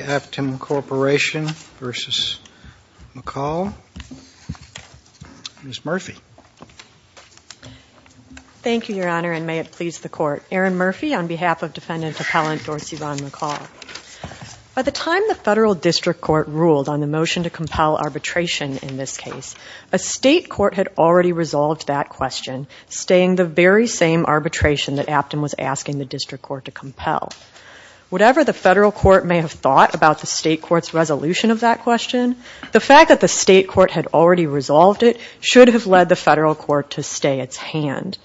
Aptim Corporation v. McCall. Ms. Murphy. Thank you, Your Honor, and may it please the Court. Erin Murphy on behalf of Defendant Appellant Dorsey Vaughn McCall. By the time the Federal District Court ruled on the motion to compel arbitration in this case, a state court had already resolved that question, staying the very same arbitration that Aptim was asking the District Court to compel. Whatever the Federal Court may have thought about the state court's resolution of that question, the fact that the state court had already resolved it should have led the Federal Court to stay its hand.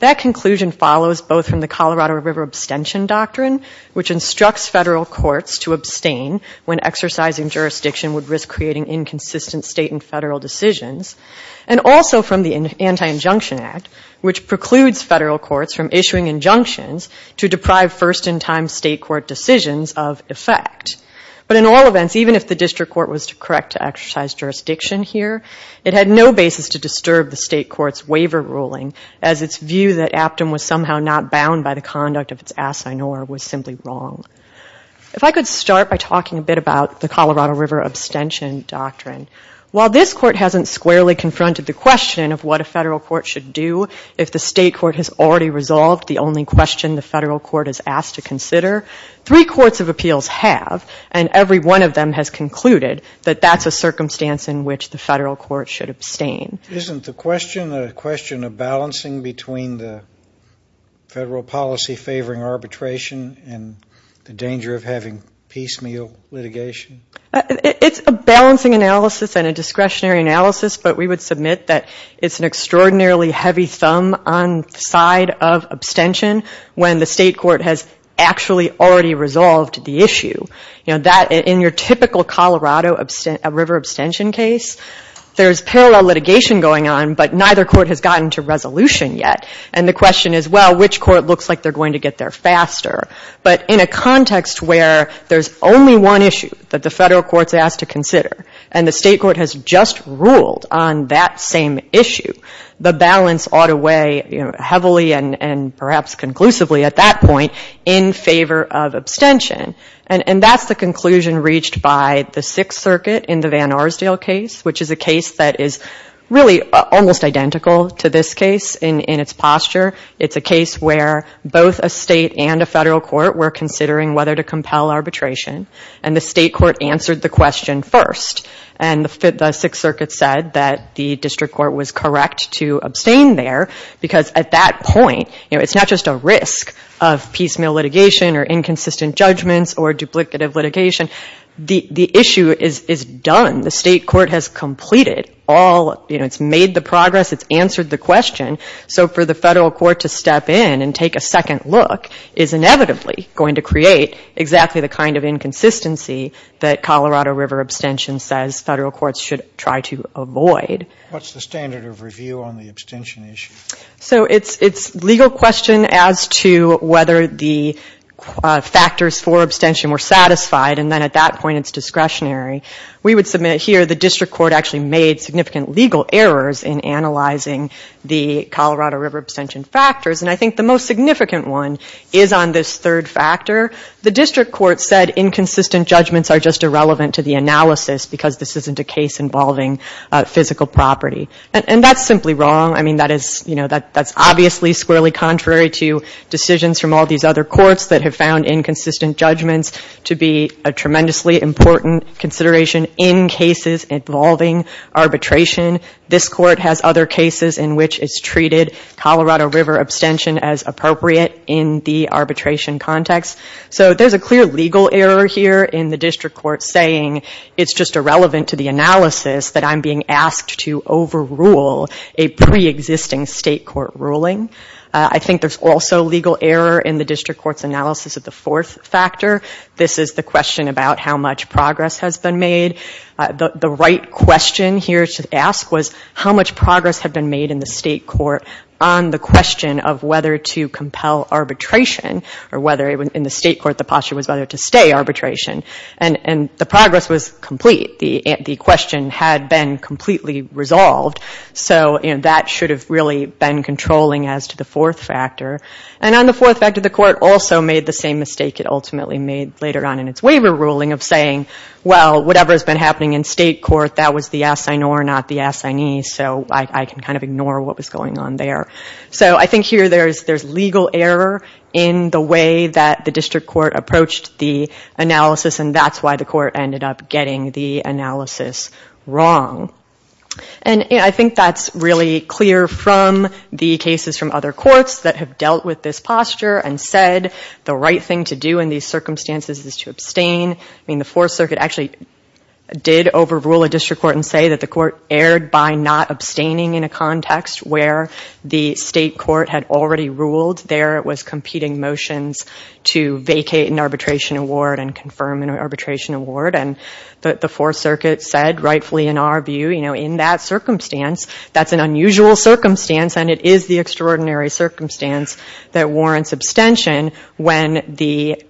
That conclusion follows both from the Colorado River Abstention Doctrine, which instructs federal courts to abstain when exercising jurisdiction would risk creating inconsistent state and federal decisions, and also from the Anti-Injunction Act, which precludes federal courts from issuing injunctions to deprive first-in-time state court decisions of effect. But in all events, even if the District Court was to correct to exercise jurisdiction here, it had no basis to disturb the state court's waiver ruling, as its view that Aptim was somehow not bound by the conduct of its assignor was simply wrong. If I could start by talking a bit about the Colorado River Abstention Doctrine. While this court hasn't squarely confronted the question of what a federal court should do if the state court has already resolved the only question the Federal Court is asked to consider, three courts of appeals have, and every one of them has concluded that that's a circumstance in which the Federal Court should abstain. Isn't the question a question of balancing between the federal policy favoring arbitration and the danger of having piecemeal litigation? It's a balancing analysis and a discretionary analysis, but we would submit that it's an extraordinarily heavy thumb on the side of abstention when the state court has actually already resolved the issue. In your typical Colorado River abstention case, there's parallel litigation going on, but neither court has gotten to resolution yet. And the question is, well, which court looks like they're going to get there faster? But in a context where there's only one issue that the Federal Court's asked to consider and the state court has just ruled on that same issue, the balance ought to weigh heavily and perhaps conclusively at that point in favor of abstention. And that's the conclusion reached by the Sixth Circuit in the Van Arsdale case, which is a case that is really almost identical to this case in its posture. It's a case where both a state and a federal court were considering whether to compel arbitration, and the state court answered the question first. And the Sixth Circuit said that the district court was correct to abstain there, because at that point, it's not just a risk of piecemeal litigation or inconsistent judgments or duplicative litigation. The issue is done. The state court has completed all, it's made the progress, it's answered the question. So for the federal court to step in and take a second look is inevitably going to create exactly the kind of inconsistency that Colorado River abstention says federal courts should try to avoid. What's the standard of review on the abstention issue? So it's legal question as to whether the factors for abstention were satisfied, and then at that point it's discretionary. We would submit here the district court actually made significant legal errors in analyzing the Colorado River abstention factors. And I think the most significant one is on this third factor. The district court said inconsistent judgments are just irrelevant to the analysis, because this isn't a case involving physical property. And that's simply wrong. I mean, that is, you know, that's obviously squarely contrary to decisions from all these other courts that have found inconsistent judgments to be a tremendously important consideration in cases involving arbitration. This court has other cases in which it's treated Colorado River abstention as appropriate in the arbitration context. So there's a clear legal error here in the district court saying it's just irrelevant to the analysis that I'm being asked to overrule a pre-existing state court ruling. I think there's also legal error in the district court's analysis of the fourth factor. This is the question about how much progress has been made. The right question here to ask was how much progress had been made in the state court on the question of whether to compel arbitration or whether in the state court the posture was whether to stay arbitration. And the progress was complete. The question had been completely resolved. So that should have really been controlling as to the fourth factor. And on the fourth factor, the court also made the same mistake it ultimately made later on in its waiver ruling of saying, well, whatever has been happening in state court, that was the assignee or not the assignee. So I can kind of ignore what was going on there. So I think here there's legal error in the way that the district court approached the analysis and that's why the court ended up getting the analysis wrong. And I think that's really clear from the cases from other courts that have dealt with this posture and said the right thing to do in these circumstances is to abstain. I mean, the Fourth Circuit actually did overrule a district court and say that the court erred by not abstaining in a context where the state court had already ruled there it was competing motions to vacate an arbitration award and confirm an arbitration award. And the Fourth Circuit said, rightfully in our view, in that circumstance, that's an unusual circumstance and it is the extraordinary circumstance that warrants abstention when the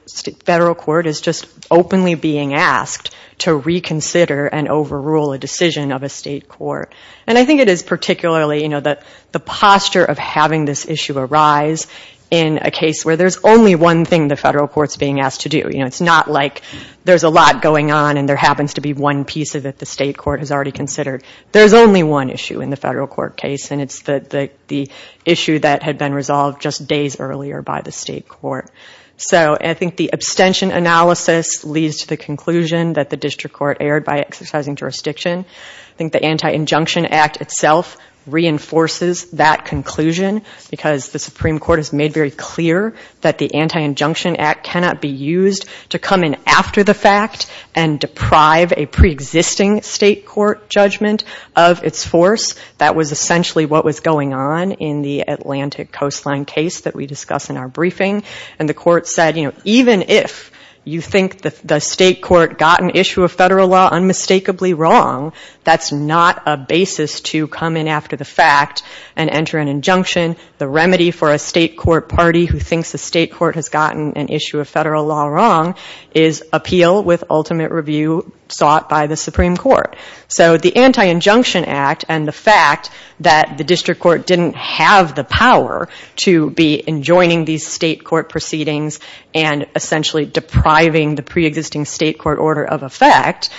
federal court is just openly being asked to reconsider and overrule a decision of a state court. And I think it is particularly, you know, that the posture of having this issue arise in a case where there's only one thing the federal court's being asked to do. You know, it's not like there's a lot going on and there happens to be one piece of it the state court has already considered. There's only one issue in the federal court case and it's the issue that had been resolved just days earlier by the state court. So I think the abstention analysis leads to the conclusion that the district court erred by exercising jurisdiction. I think the Anti-Injunction Act itself reinforces that conclusion because the Supreme Court has made very clear that the Anti-Injunction Act cannot be used to come in after the fact and deprive a preexisting state court judgment of its force. That was essentially what was going on in the Atlantic coastline case that we discuss in our briefing. And the court said, you know, even if you think the state court got an issue of federal law unmistakably wrong, that's not a basis to come in after the fact and enter an injunction. The remedy for a state court party who thinks the state court has gotten an issue of federal law wrong is appeal with ultimate review sought by the Supreme Court. So the Anti-Injunction Act and the fact that the district court didn't have the power to be enjoining these state court proceedings and essentially depriving the preexisting state court order of effect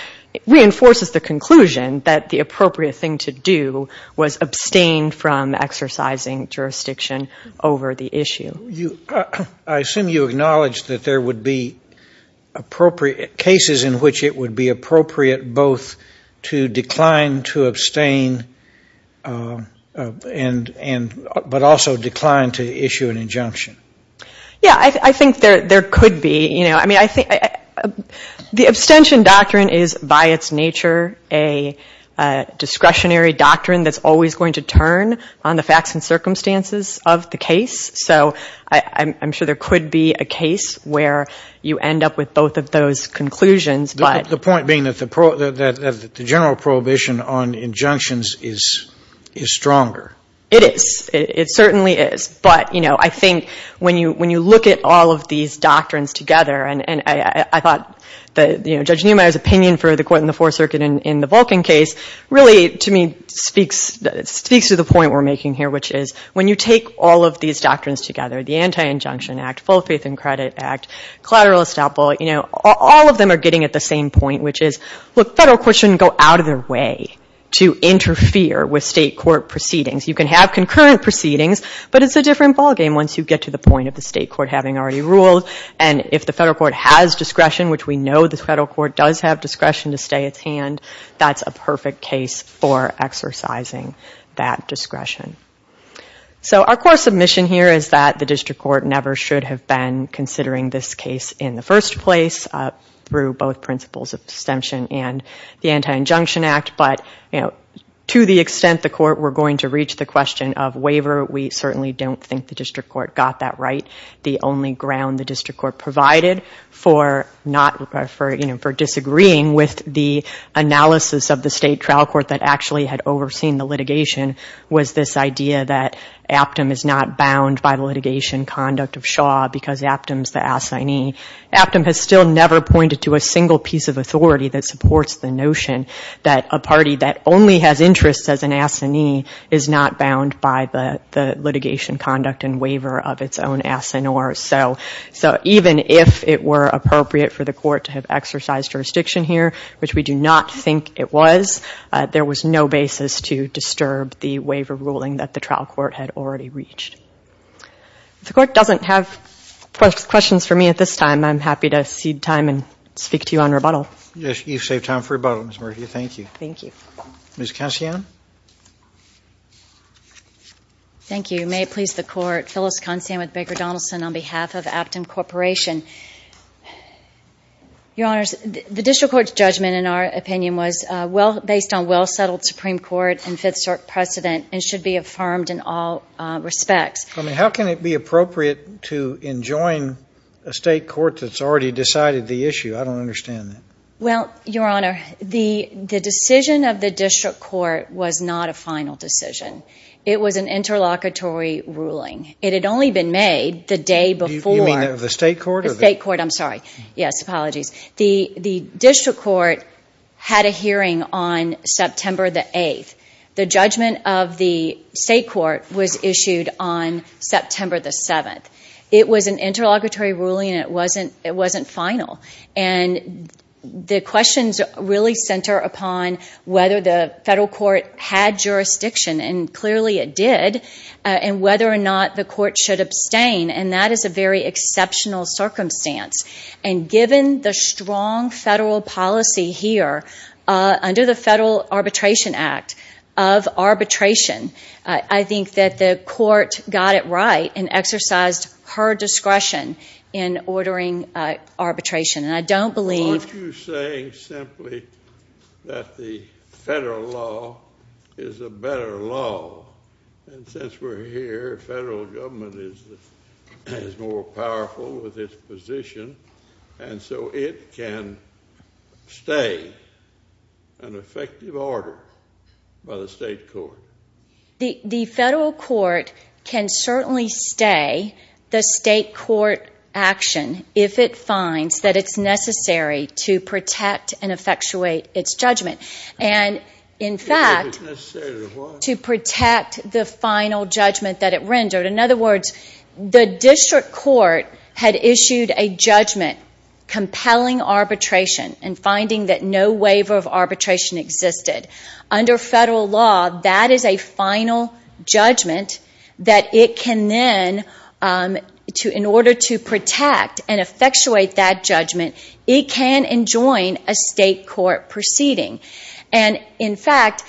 reinforces the conclusion that the appropriate thing to do was abstain from exercising jurisdiction over the issue. I assume you acknowledge that there would be appropriate cases in which it would be appropriate both to decline to abstain but also decline to issue an injunction. Yeah, I think there could be. I mean, the abstention doctrine is by its nature a discretionary deterrent on the facts and circumstances of the case. So I'm sure there could be a case where you end up with both of those conclusions. The point being that the general prohibition on injunctions is stronger. It is. It certainly is. But, you know, I think when you look at all of these doctrines together and I thought Judge Niemeyer's opinion for the court in the Fourth Circuit in the Vulcan case really, to me, speaks to the point we're making here, which is when you take all of these doctrines together, the Anti-Injunction Act, Full Faith and Credit Act, Collateral Estoppel, you know, all of them are getting at the same point, which is, look, federal court shouldn't go out of their way to interfere with state court proceedings. You can have concurrent proceedings, but it's a different ballgame once you get to the point of the state court having already ruled and if the federal court has discretion, which we know the federal court does have discretion to stay its hand, that's a perfect case for exercising that discretion. So our core submission here is that the district court never should have been considering this case in the first place through both principles of distinction and the Anti-Injunction Act, but to the extent the court were going to reach the question of waiver, we certainly don't think the district court got that right. The only ground the district court provided for not, you know, for disagreeing with the analysis of the state trial court that actually had overseen the litigation was this idea that Aptom is not bound by the litigation conduct of Shaw because Aptom's the assignee. Aptom has still never pointed to a single piece of authority that supports the notion that a party that only has interests as an assignee is not bound by the litigation conduct and waiver of its own assignors. So even if it were appropriate for the court to have exercised jurisdiction here, which we do not think it was, there was no basis to disturb the waiver ruling that the trial court had already reached. If the court doesn't have questions for me at this time, I'm happy to cede time and speak to you on rebuttal. Yes, you've saved time for rebuttal, Ms. Murphy. Thank you. Thank you. Ms. Concian? Thank you. May it please the court, Phyllis Concian with Baker Donaldson on behalf of the District Court. Your Honors, the District Court's judgment, in our opinion, was based on well-settled Supreme Court and Fifth Circuit precedent and should be affirmed in all respects. I mean, how can it be appropriate to enjoin a state court that's already decided the issue? I don't understand that. Well, Your Honor, the decision of the District Court was not a final decision. It was an interlocutory ruling. It had only been made the day before. You mean the State Court? The State Court, I'm sorry. Yes, apologies. The District Court had a hearing on September the 8th. The judgment of the State Court was issued on September the 7th. It was an interlocutory ruling and it wasn't final. The questions really center upon whether the Federal Court had jurisdiction, and clearly it did, and whether or not the Court should abstain. That is a very exceptional circumstance. And given the strong Federal policy here under the Federal Arbitration Act of arbitration, I think that the Court got it right and exercised her discretion in ordering arbitration. And I don't believe... Aren't you saying simply that the Federal law is a better law? And since we're here, the Federal government is more powerful with its position, and so it can stay an effective order by the State Court? The Federal Court can certainly stay the State Court action if it finds that it's necessary to protect and effectuate its judgment. And, in fact, to protect the final judgment that rendered. In other words, the District Court had issued a judgment compelling arbitration and finding that no waiver of arbitration existed. Under Federal law, that is a final judgment that it can then, in order to protect and effectuate that judgment, it can enjoin a State Court proceeding. And, in fact,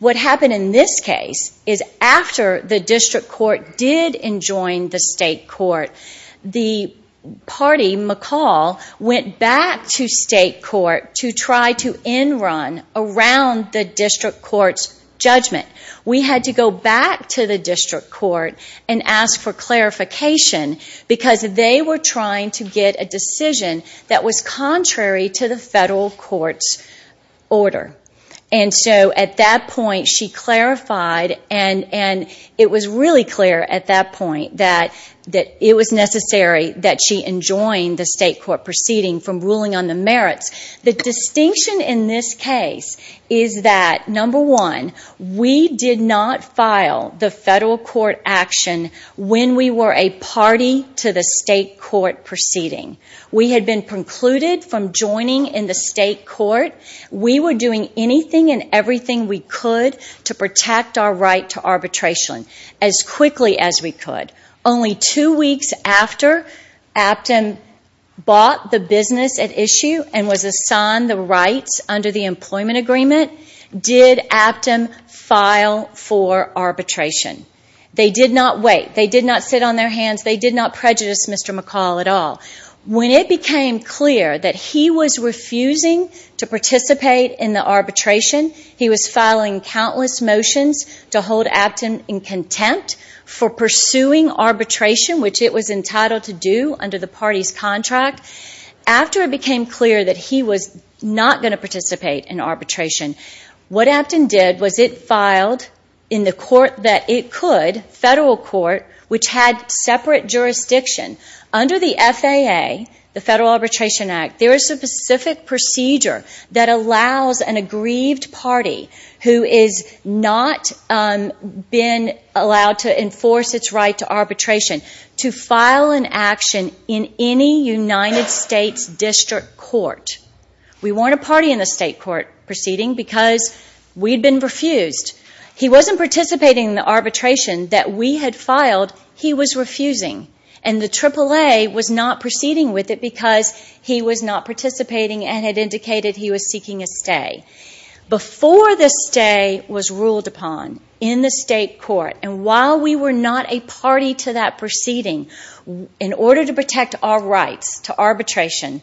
what happened in this case is after the District Court did enjoin the State Court, the party, McCall, went back to State Court to try to end-run around the District Court's judgment. We had to go back to the District Court and ask for clarification because they were trying to get a decision that was contrary to the at that point that it was necessary that she enjoin the State Court proceeding from ruling on the merits. The distinction in this case is that, number one, we did not file the Federal Court action when we were a party to the State Court proceeding. We had been precluded from joining in the State Court. We were doing anything and everything we could to protect our right to arbitration as quickly as we could. Only two weeks after Aptom bought the business at issue and was assigned the rights under the employment agreement did Aptom file for arbitration. They did not wait. They did not sit on their hands. They did not prejudice Mr. McCall at all. When it became clear that he was refusing to participate in the arbitration, he was filing countless motions to hold Aptom in contempt for pursuing arbitration, which it was entitled to do under the party's contract. After it became clear that he was not going to participate in arbitration, what Aptom did was it filed in the court that it could, Federal Court, which had separate jurisdiction. Under the FAA, the Federal Arbitration Act, there is a specific procedure that allows an aggrieved party who has not been allowed to enforce its right to arbitration to file an action in any United States district court. We were not a party in the State Court proceeding because we had been refused. He was not participating in the arbitration that we had filed. He was refusing. The AAA was not proceeding with it because he was not participating and it indicated he was seeking a stay. Before the stay was ruled upon in the State Court, and while we were not a party to that proceeding, in order to protect our rights to arbitration,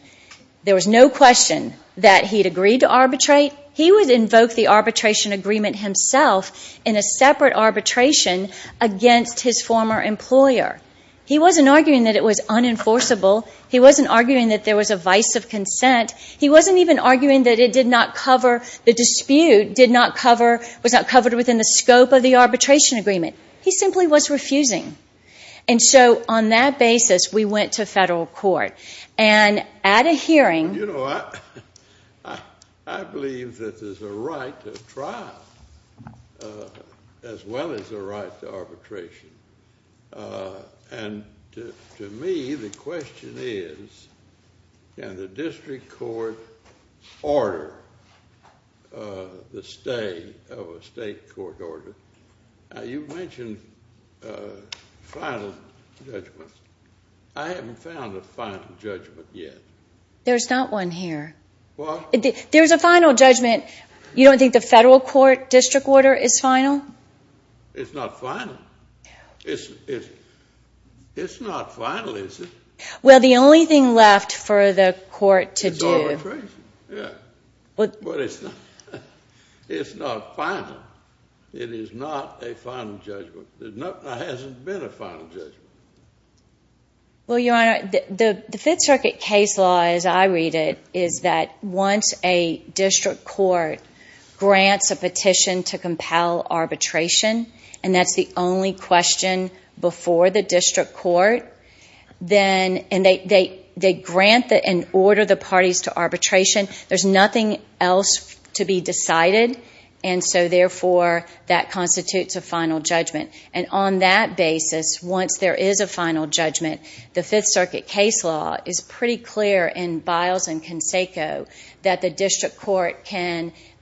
there was no question that he would agree to arbitrate. He would invoke the arbitration agreement himself in a separate arbitration against his former employer. He wasn't arguing that it was unenforceable. He wasn't arguing that there was a vice of consent. He wasn't even arguing that it did not cover, the dispute did not cover, was not covered within the scope of the arbitration agreement. He simply was refusing. And so, on that basis, we went to Federal Court. And at a hearing... And to me, the question is, can the district court order the stay of a State Court order? You mentioned final judgment. I haven't found a final judgment yet. There's not one here. What? There's a final judgment. You don't think the Federal Court district order is final? It's not final. It's not final, is it? Well, the only thing left for the court to do... It's arbitration. Yeah. But it's not final. It is not a final judgment. There hasn't been a final judgment. Well, Your Honor, the Fifth Circuit case law, as I read it, is that once a district court grants a petition to compel arbitration, and that's the only question before the district court, then... And they grant and order the parties to arbitration. There's nothing else to be decided. And so, therefore, that constitutes a final judgment. And on that basis, once there is a final judgment, the Fifth Circuit case law is pretty clear in Biles and Conseco that the district court,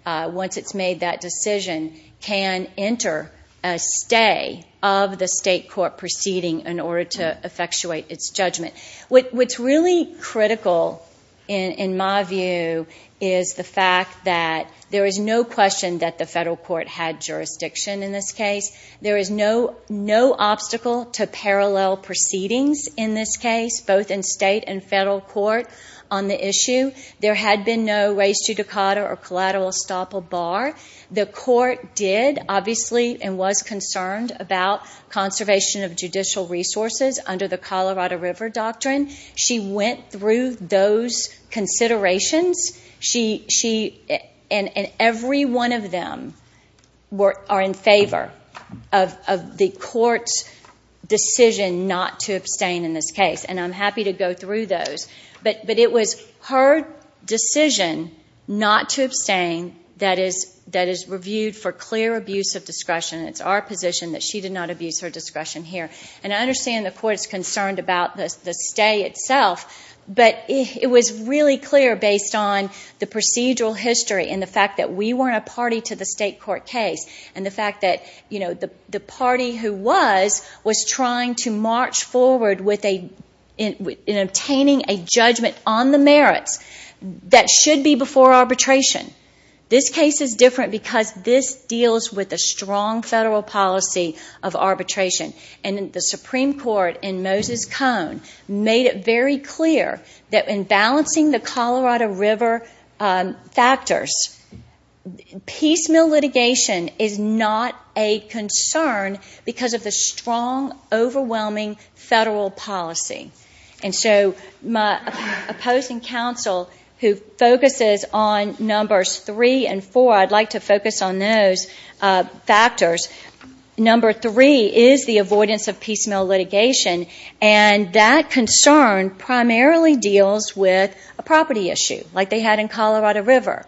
once it's made that decision, can enter a stay of the state court proceeding in order to effectuate its judgment. What's really critical, in my view, is the fact that there is no question that the Federal Court had jurisdiction in this case. There is no obstacle to parallel proceedings in this case, both in state and federal court, on the issue. There had been no res judicata or collateral estoppel bar. The court did, obviously, and was concerned about conservation of judicial resources under the Colorado River Doctrine. She went through those considerations. And every one of them are in favor of the court's decision not to abstain in this case. And I'm happy to go through those. But it was her decision not to abstain that is reviewed for clear abuse of discretion. It's our position that she did not abuse her discretion here. And I understand the court is concerned about the stay itself, but it was really clear based on the procedural history and the fact that we weren't a party to the state court case. And the fact that the party who was, was trying to march forward in obtaining a judgment on the merits that should be before arbitration. This case is different because this deals with a strong federal policy of arbitration. And the Supreme Court, in Moses Cone, made it very clear that in balancing the Colorado River factors, piecemeal litigation is not a concern because of the strong, overwhelming federal policy. And so my opposing counsel, who focuses on numbers three and four, I'd like to focus on those factors. Number three is the avoidance of piecemeal litigation. And that concern primarily deals with a property issue, like they had in Colorado River.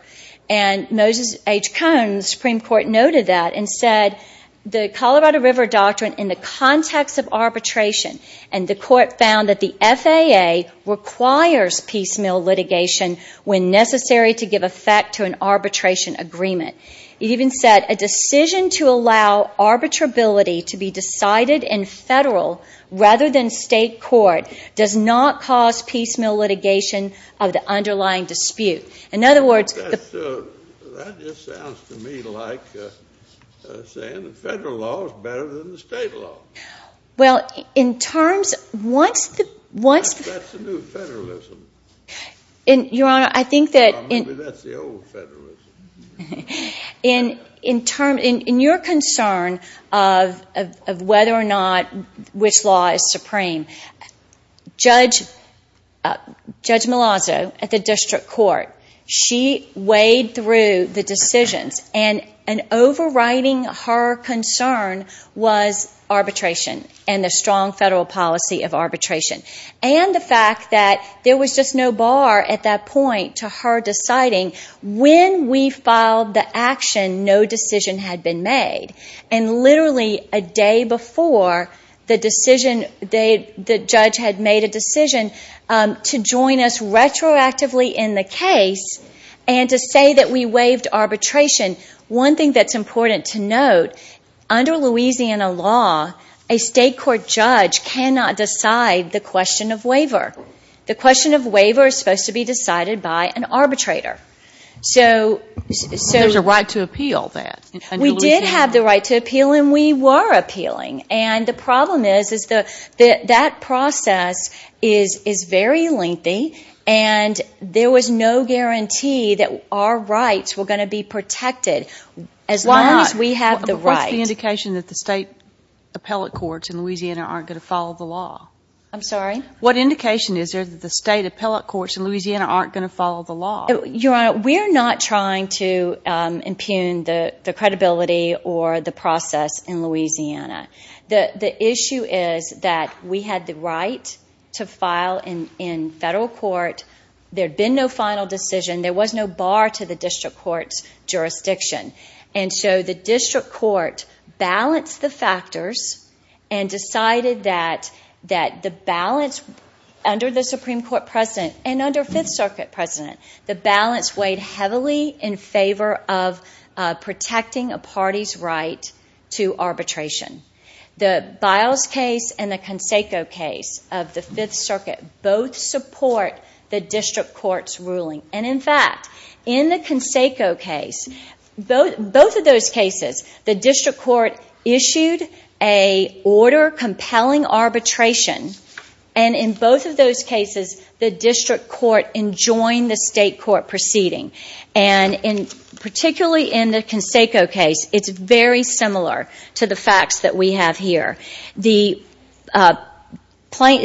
And Moses H. Cone in the Supreme Court noted that and said the Colorado River doctrine in the context of arbitration, and the court found that the FAA requires piecemeal litigation when necessary to give effect to an arbitration agreement. It even said a decision to allow arbitrability to be decided in federal rather than state court does not cause piecemeal litigation of the underlying dispute. In other words, the... That just sounds to me like saying the federal law is better than the state law. Well, in terms, once the... That's the new federalism. Your Honor, I think that... Maybe that's the old federalism. In your concern of whether or not which law is supreme, judgment on the merits of arbitration is a concern. Ms. Malazzo at the district court, she weighed through the decisions and overriding her concern was arbitration and the strong federal policy of arbitration. And the fact that there was just no bar at that point to her deciding when we filed the action, no decision had been made. And literally a day before the decision, the judge had made a decision to join us retroactively in the case and to say that we waived arbitration. One thing that's important to note, under Louisiana law, a state court judge cannot decide the question of waiver. The question of waiver is supposed to be decided by an arbitrator. There's a right to appeal that in Louisiana. We did have the right to appeal and we were appealing. And the problem is that process is very lengthy and there was no guarantee that our rights were going to be protected as long as we have the right. What's the indication that the state appellate courts in Louisiana aren't going to follow the law? I'm sorry? What indication is there that the state appellate courts in Louisiana aren't going to follow the law? Your Honor, we're not trying to impugn the credibility or the process in Louisiana. The issue is that we had the right to file in federal court. There'd been no final decision. There was no bar to the district court's jurisdiction. And so the district court balanced the factors and decided that the balance under the Supreme Court President and under Fifth Circuit President, the balance weighed heavily in favor of protecting a party's right to arbitration. The Biles case and the Conseco case of the Fifth Circuit both support the district court's ruling. And in fact, in the Conseco case, both of those cases, the district court issued a order compelling arbitration and in both of those cases, the district court enjoined the state court proceeding. And particularly in the Conseco case, it's very similar to the facts that we have here. In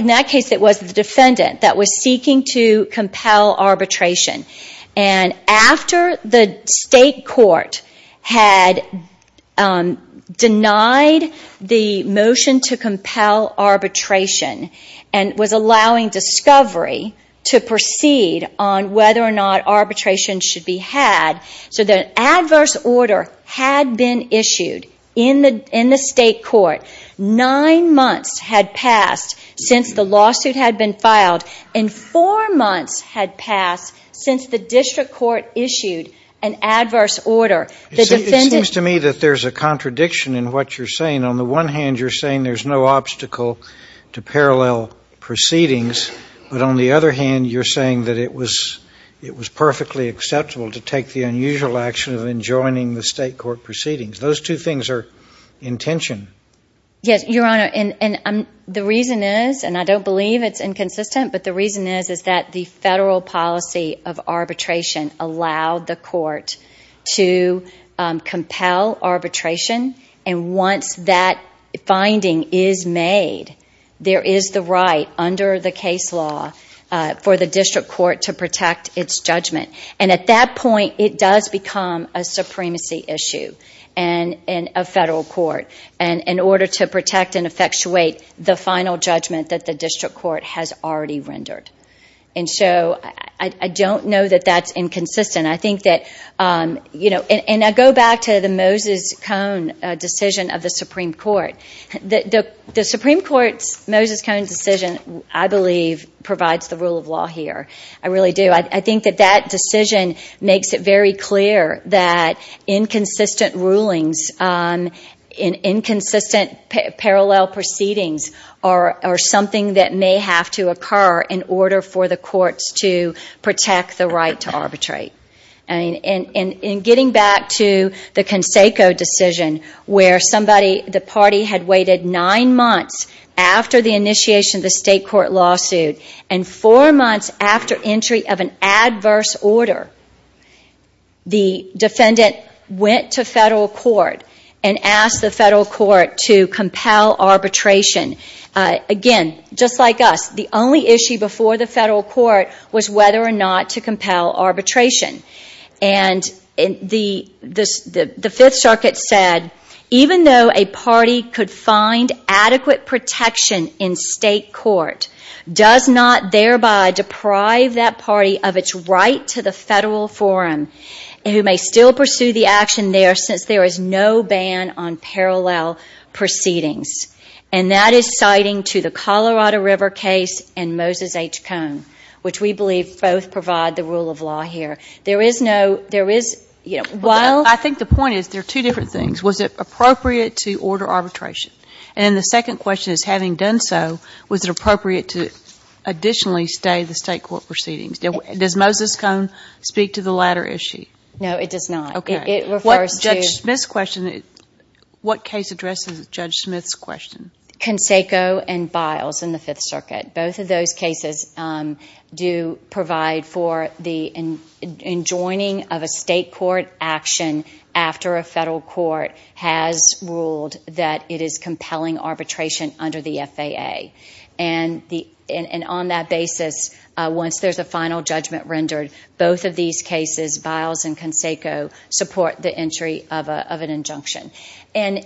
that case, it was the defendant that was seeking to compel arbitration. And after the state court had denied the motion to compel arbitration and was allowing discovery to proceed on whether or not arbitration should be had, so that adverse order had been issued in the state court. Nine months had passed since the lawsuit had been filed. And four months had passed since the district court issued an adverse order. It seems to me that there's a contradiction in what you're saying. On the one hand, you're saying there's no obstacle to parallel proceedings. But on the other hand, you're saying that it was perfectly acceptable to take the unusual action of enjoining the state court proceedings. Those two things are in tension. Yes, Your Honor. And the reason is, and I don't believe it's inconsistent, but the reason is that the federal policy of arbitration allowed the court to compel arbitration. And once that finding is made, there is the right under the case law for the district court to protect its judgment. And at that point, it does become a supremacy issue in a federal court in order to protect and effectuate the final judgment that the district court has already rendered. And so I don't know that that's inconsistent. I think that, you know, and I go back to the Moses Cone decision of the Supreme Court. The Supreme Court's Moses Cone decision, I really do. I think that that decision makes it very clear that inconsistent rulings, inconsistent parallel proceedings are something that may have to occur in order for the courts to protect the right to arbitrate. In getting back to the Conseco decision, where somebody, the party had waited nine months after the initiation of the state court lawsuit, and four months after entry of an adverse order, the defendant went to federal court and asked the federal court to compel arbitration. Again, just like us, the only issue before the federal court was whether or not to compel arbitration. And the Fifth Circuit said, even though a party could find adequate protection in state court, does not thereby deprive that party of its right to the federal forum, and who may still pursue the action there since there is no ban on parallel proceedings. And that is citing to the Colorado River case and Moses H. Cone, which we believe both provide the rule of law here. There is no, there is, you know, while... I think the point is there are two different things. Was it appropriate to order arbitration? And the second question is, having done so, was it appropriate to additionally stay the state court proceedings? Does Moses Cone speak to the latter issue? No, it does not. It refers to... Okay. Judge Smith's question, what case addresses Judge Smith's question? Conseco and Biles in the Fifth Circuit. Both of those cases do provide for the enjoining of a state court action after a federal court has ruled that it is compelling arbitration under the FAA. And on that basis, once there is a final judgment rendered, both of these cases, Biles and Conseco, support the entry of an injunction. And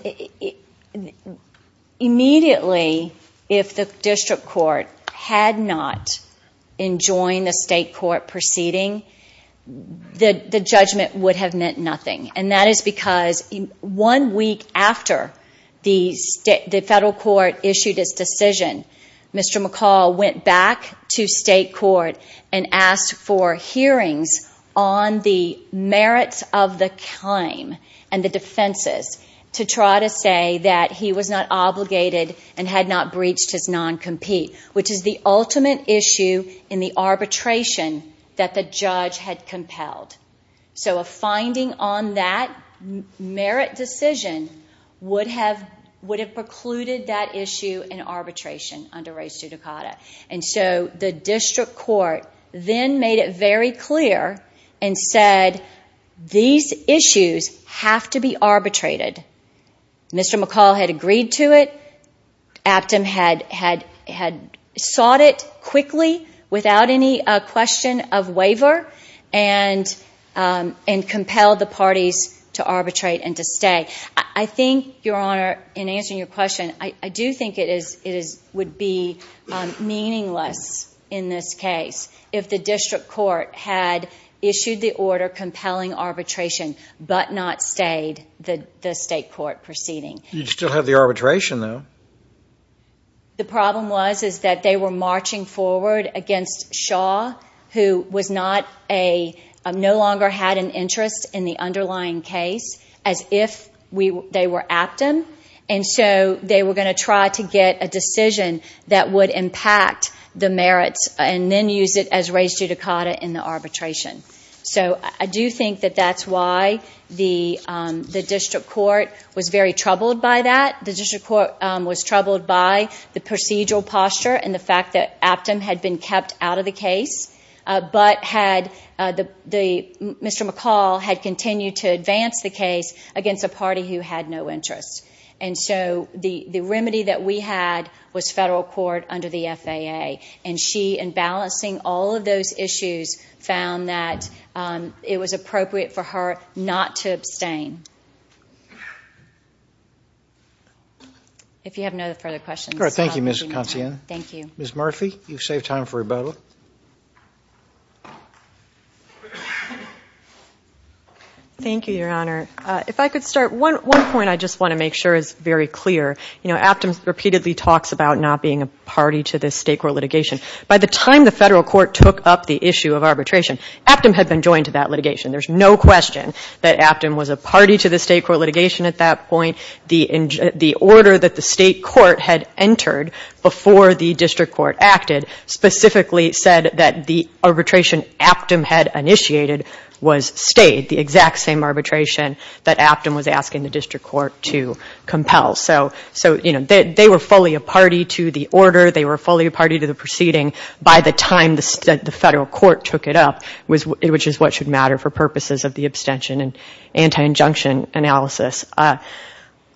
immediately, if the district court had not enjoined the state court proceeding, the judgment would have meant nothing. And that is because one week after the federal court issued its decision, Mr. McCall went back to state court and asked for hearings on the merits of the claim and the defenses to try to say that he was not obligated and had not breached his non-compete, which is the ultimate issue in the arbitration that the judge had raised. So a finding on that merit decision would have precluded that issue in arbitration under res judicata. And so the district court then made it very clear and said, these issues have to be arbitrated. Mr. McCall had agreed to it. Aptam had sought it quickly without any question of waiver and compelled the parties to arbitrate and to stay. I think, Your Honor, in answering your question, I do think it would be meaningless in this case if the district court had issued the order compelling arbitration but not stayed the state court proceeding. You'd still have the arbitration, though. The problem was that they were marching forward against Shaw, who no longer had an interest in the underlying case, as if they were Aptam. And so they were going to try to get a decision that would impact the merits and then use it as res judicata in the arbitration. So I do think that that's why the district court was very troubled by that. The district court was troubled by the procedural posture and the fact that Aptam had been kept out of the case, but Mr. McCall had continued to advance the case against a party who had no interest. And so the remedy that we had was federal court under the FAA. And she, in balancing all of those issues, found that it was appropriate for her not to abstain. If you have no further questions, I'll leave you in time. Thank you, Ms. Consiglien. Thank you. Ms. Murphy, you've saved time for rebuttal. Thank you, Your Honor. If I could start. One point I just want to make sure is very clear. You know, Aptam repeatedly talks about not being a party to this state court litigation. By the time the federal court took up the issue of arbitration, Aptam had been joined to that litigation. There's no question that Aptam was a party to the state court litigation at that point. The order that the state court had entered before the district court acted specifically said that the arbitration Aptam had initiated was stayed, the exact same arbitration that Aptam was asking the district court to compel. So, you know, they were fully a party to the order. They were fully a party to the proceeding. By the time the federal court took it up, which is what should matter for purposes of the abstention and anti-injunction analysis,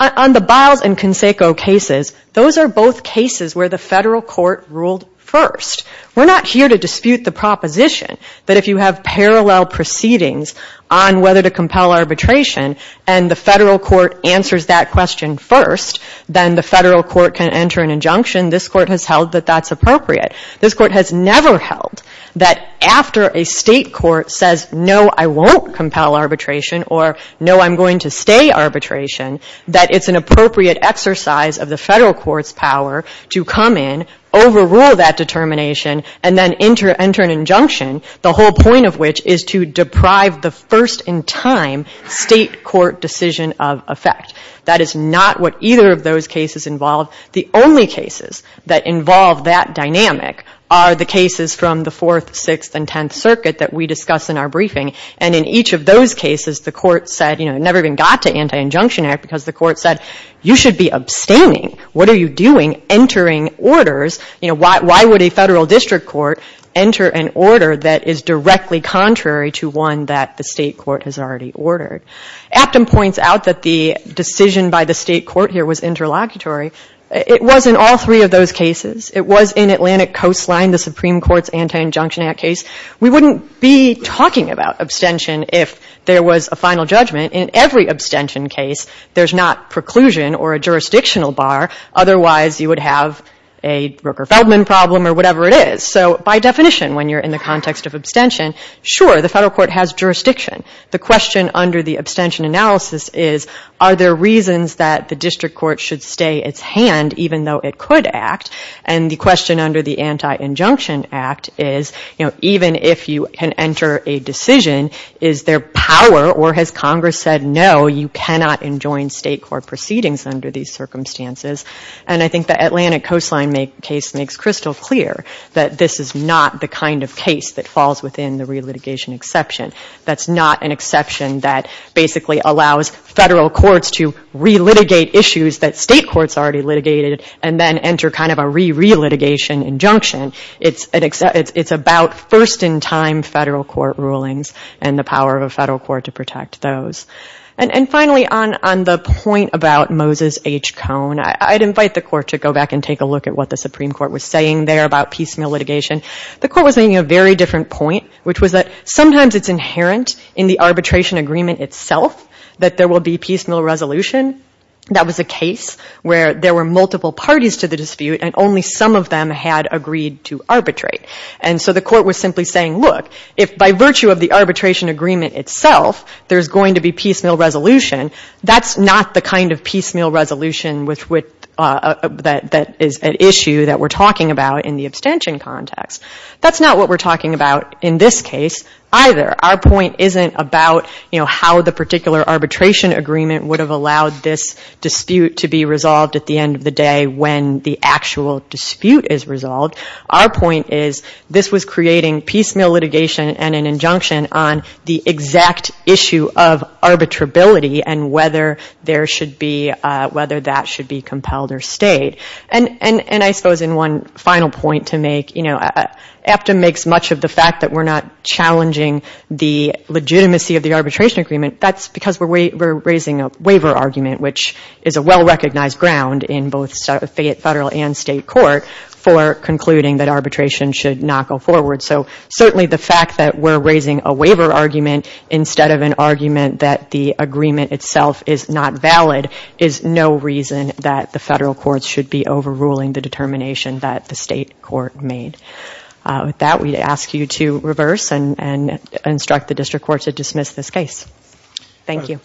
on the Biles and Conseco cases, those are both cases where the federal court ruled first. We're not here to dispute the proposition that if you have parallel proceedings on whether to compel arbitration and the federal court answers that question first, then the federal court can enter an injunction. This court has held that that's appropriate. This court has never held that after a state court says, no, I won't compel arbitration or no, I'm going to stay arbitration, that it's an appropriate exercise of the federal court's power to come in, overrule that determination, and then enter an injunction, the whole point of which is to deprive the first-in-time state court decision of effect. That is not what either of those cases involve. The only cases that involve that dynamic are the cases from the Fourth, Sixth, and Tenth Circuit that we discuss in our briefing. And in each of those cases, the court said, you know, it never even got to anti-injunction act because the court said, you should be abstaining. What are you doing entering orders? You know, why would a federal district court enter an order that is directly contrary to one that the state court has already ordered? Aptam points out that the decision by the state court here was interlocutory. It was in all three of those cases. It was in Atlantic Coastline, in the Supreme Court's anti-injunction act case. We wouldn't be talking about abstention if there was a final judgment. In every abstention case, there's not preclusion or a jurisdictional bar. Otherwise, you would have a Rooker-Feldman problem or whatever it is. So by definition, when you're in the context of abstention, sure, the federal court has jurisdiction. The question under the abstention analysis is, are there reasons that the district court should stay its hand even though it could act? And the question under the anti-injunction act is, you know, even if you can enter a decision, is there power or has Congress said, no, you cannot enjoin state court proceedings under these circumstances? And I think the Atlantic Coastline case makes crystal clear that this is not the kind of case that falls within the relitigation exception. That's not an exception that basically allows federal courts to relitigate issues that state courts already litigated and then enter kind of a re-relitigation injunction. It's about first-in-time federal court rulings and the power of a federal court to protect those. And finally, on the point about Moses H. Cone, I'd invite the court to go back and take a look at what the Supreme Court was saying there about piecemeal litigation. The court was making a very different point, which was that sometimes it's inherent in the arbitration agreement itself that there will be piecemeal resolution. That was a case where there were multiple parties to the dispute and only some of them had agreed to arbitrate. And so the court was simply saying, look, if by virtue of the arbitration agreement itself there's going to be piecemeal resolution, that's not the kind of piecemeal resolution with which that is an issue that we're talking about in the abstention context. That's not what we're talking about in this case either. Our point isn't about how the particular arbitration agreement would have allowed this dispute to be resolved at the end of the day when the actual dispute is resolved. Our point is this was creating piecemeal litigation and an injunction on the exact issue of arbitrability and whether that should be compelled or stayed. And I suppose in one final point to make, you know, AFTA makes much of the fact that we're not challenging the legitimacy of the arbitration agreement. That's because we're raising a waiver argument, which is a well-recognized ground in both federal and state court for concluding that arbitration should not go forward. So certainly the fact that we're raising a waiver argument instead of an argument that the agreement itself is not valid is no reason that the federal courts should be overruling the determination that the state court made. With that, we ask you to reverse and instruct the district court to dismiss this case. Thank you.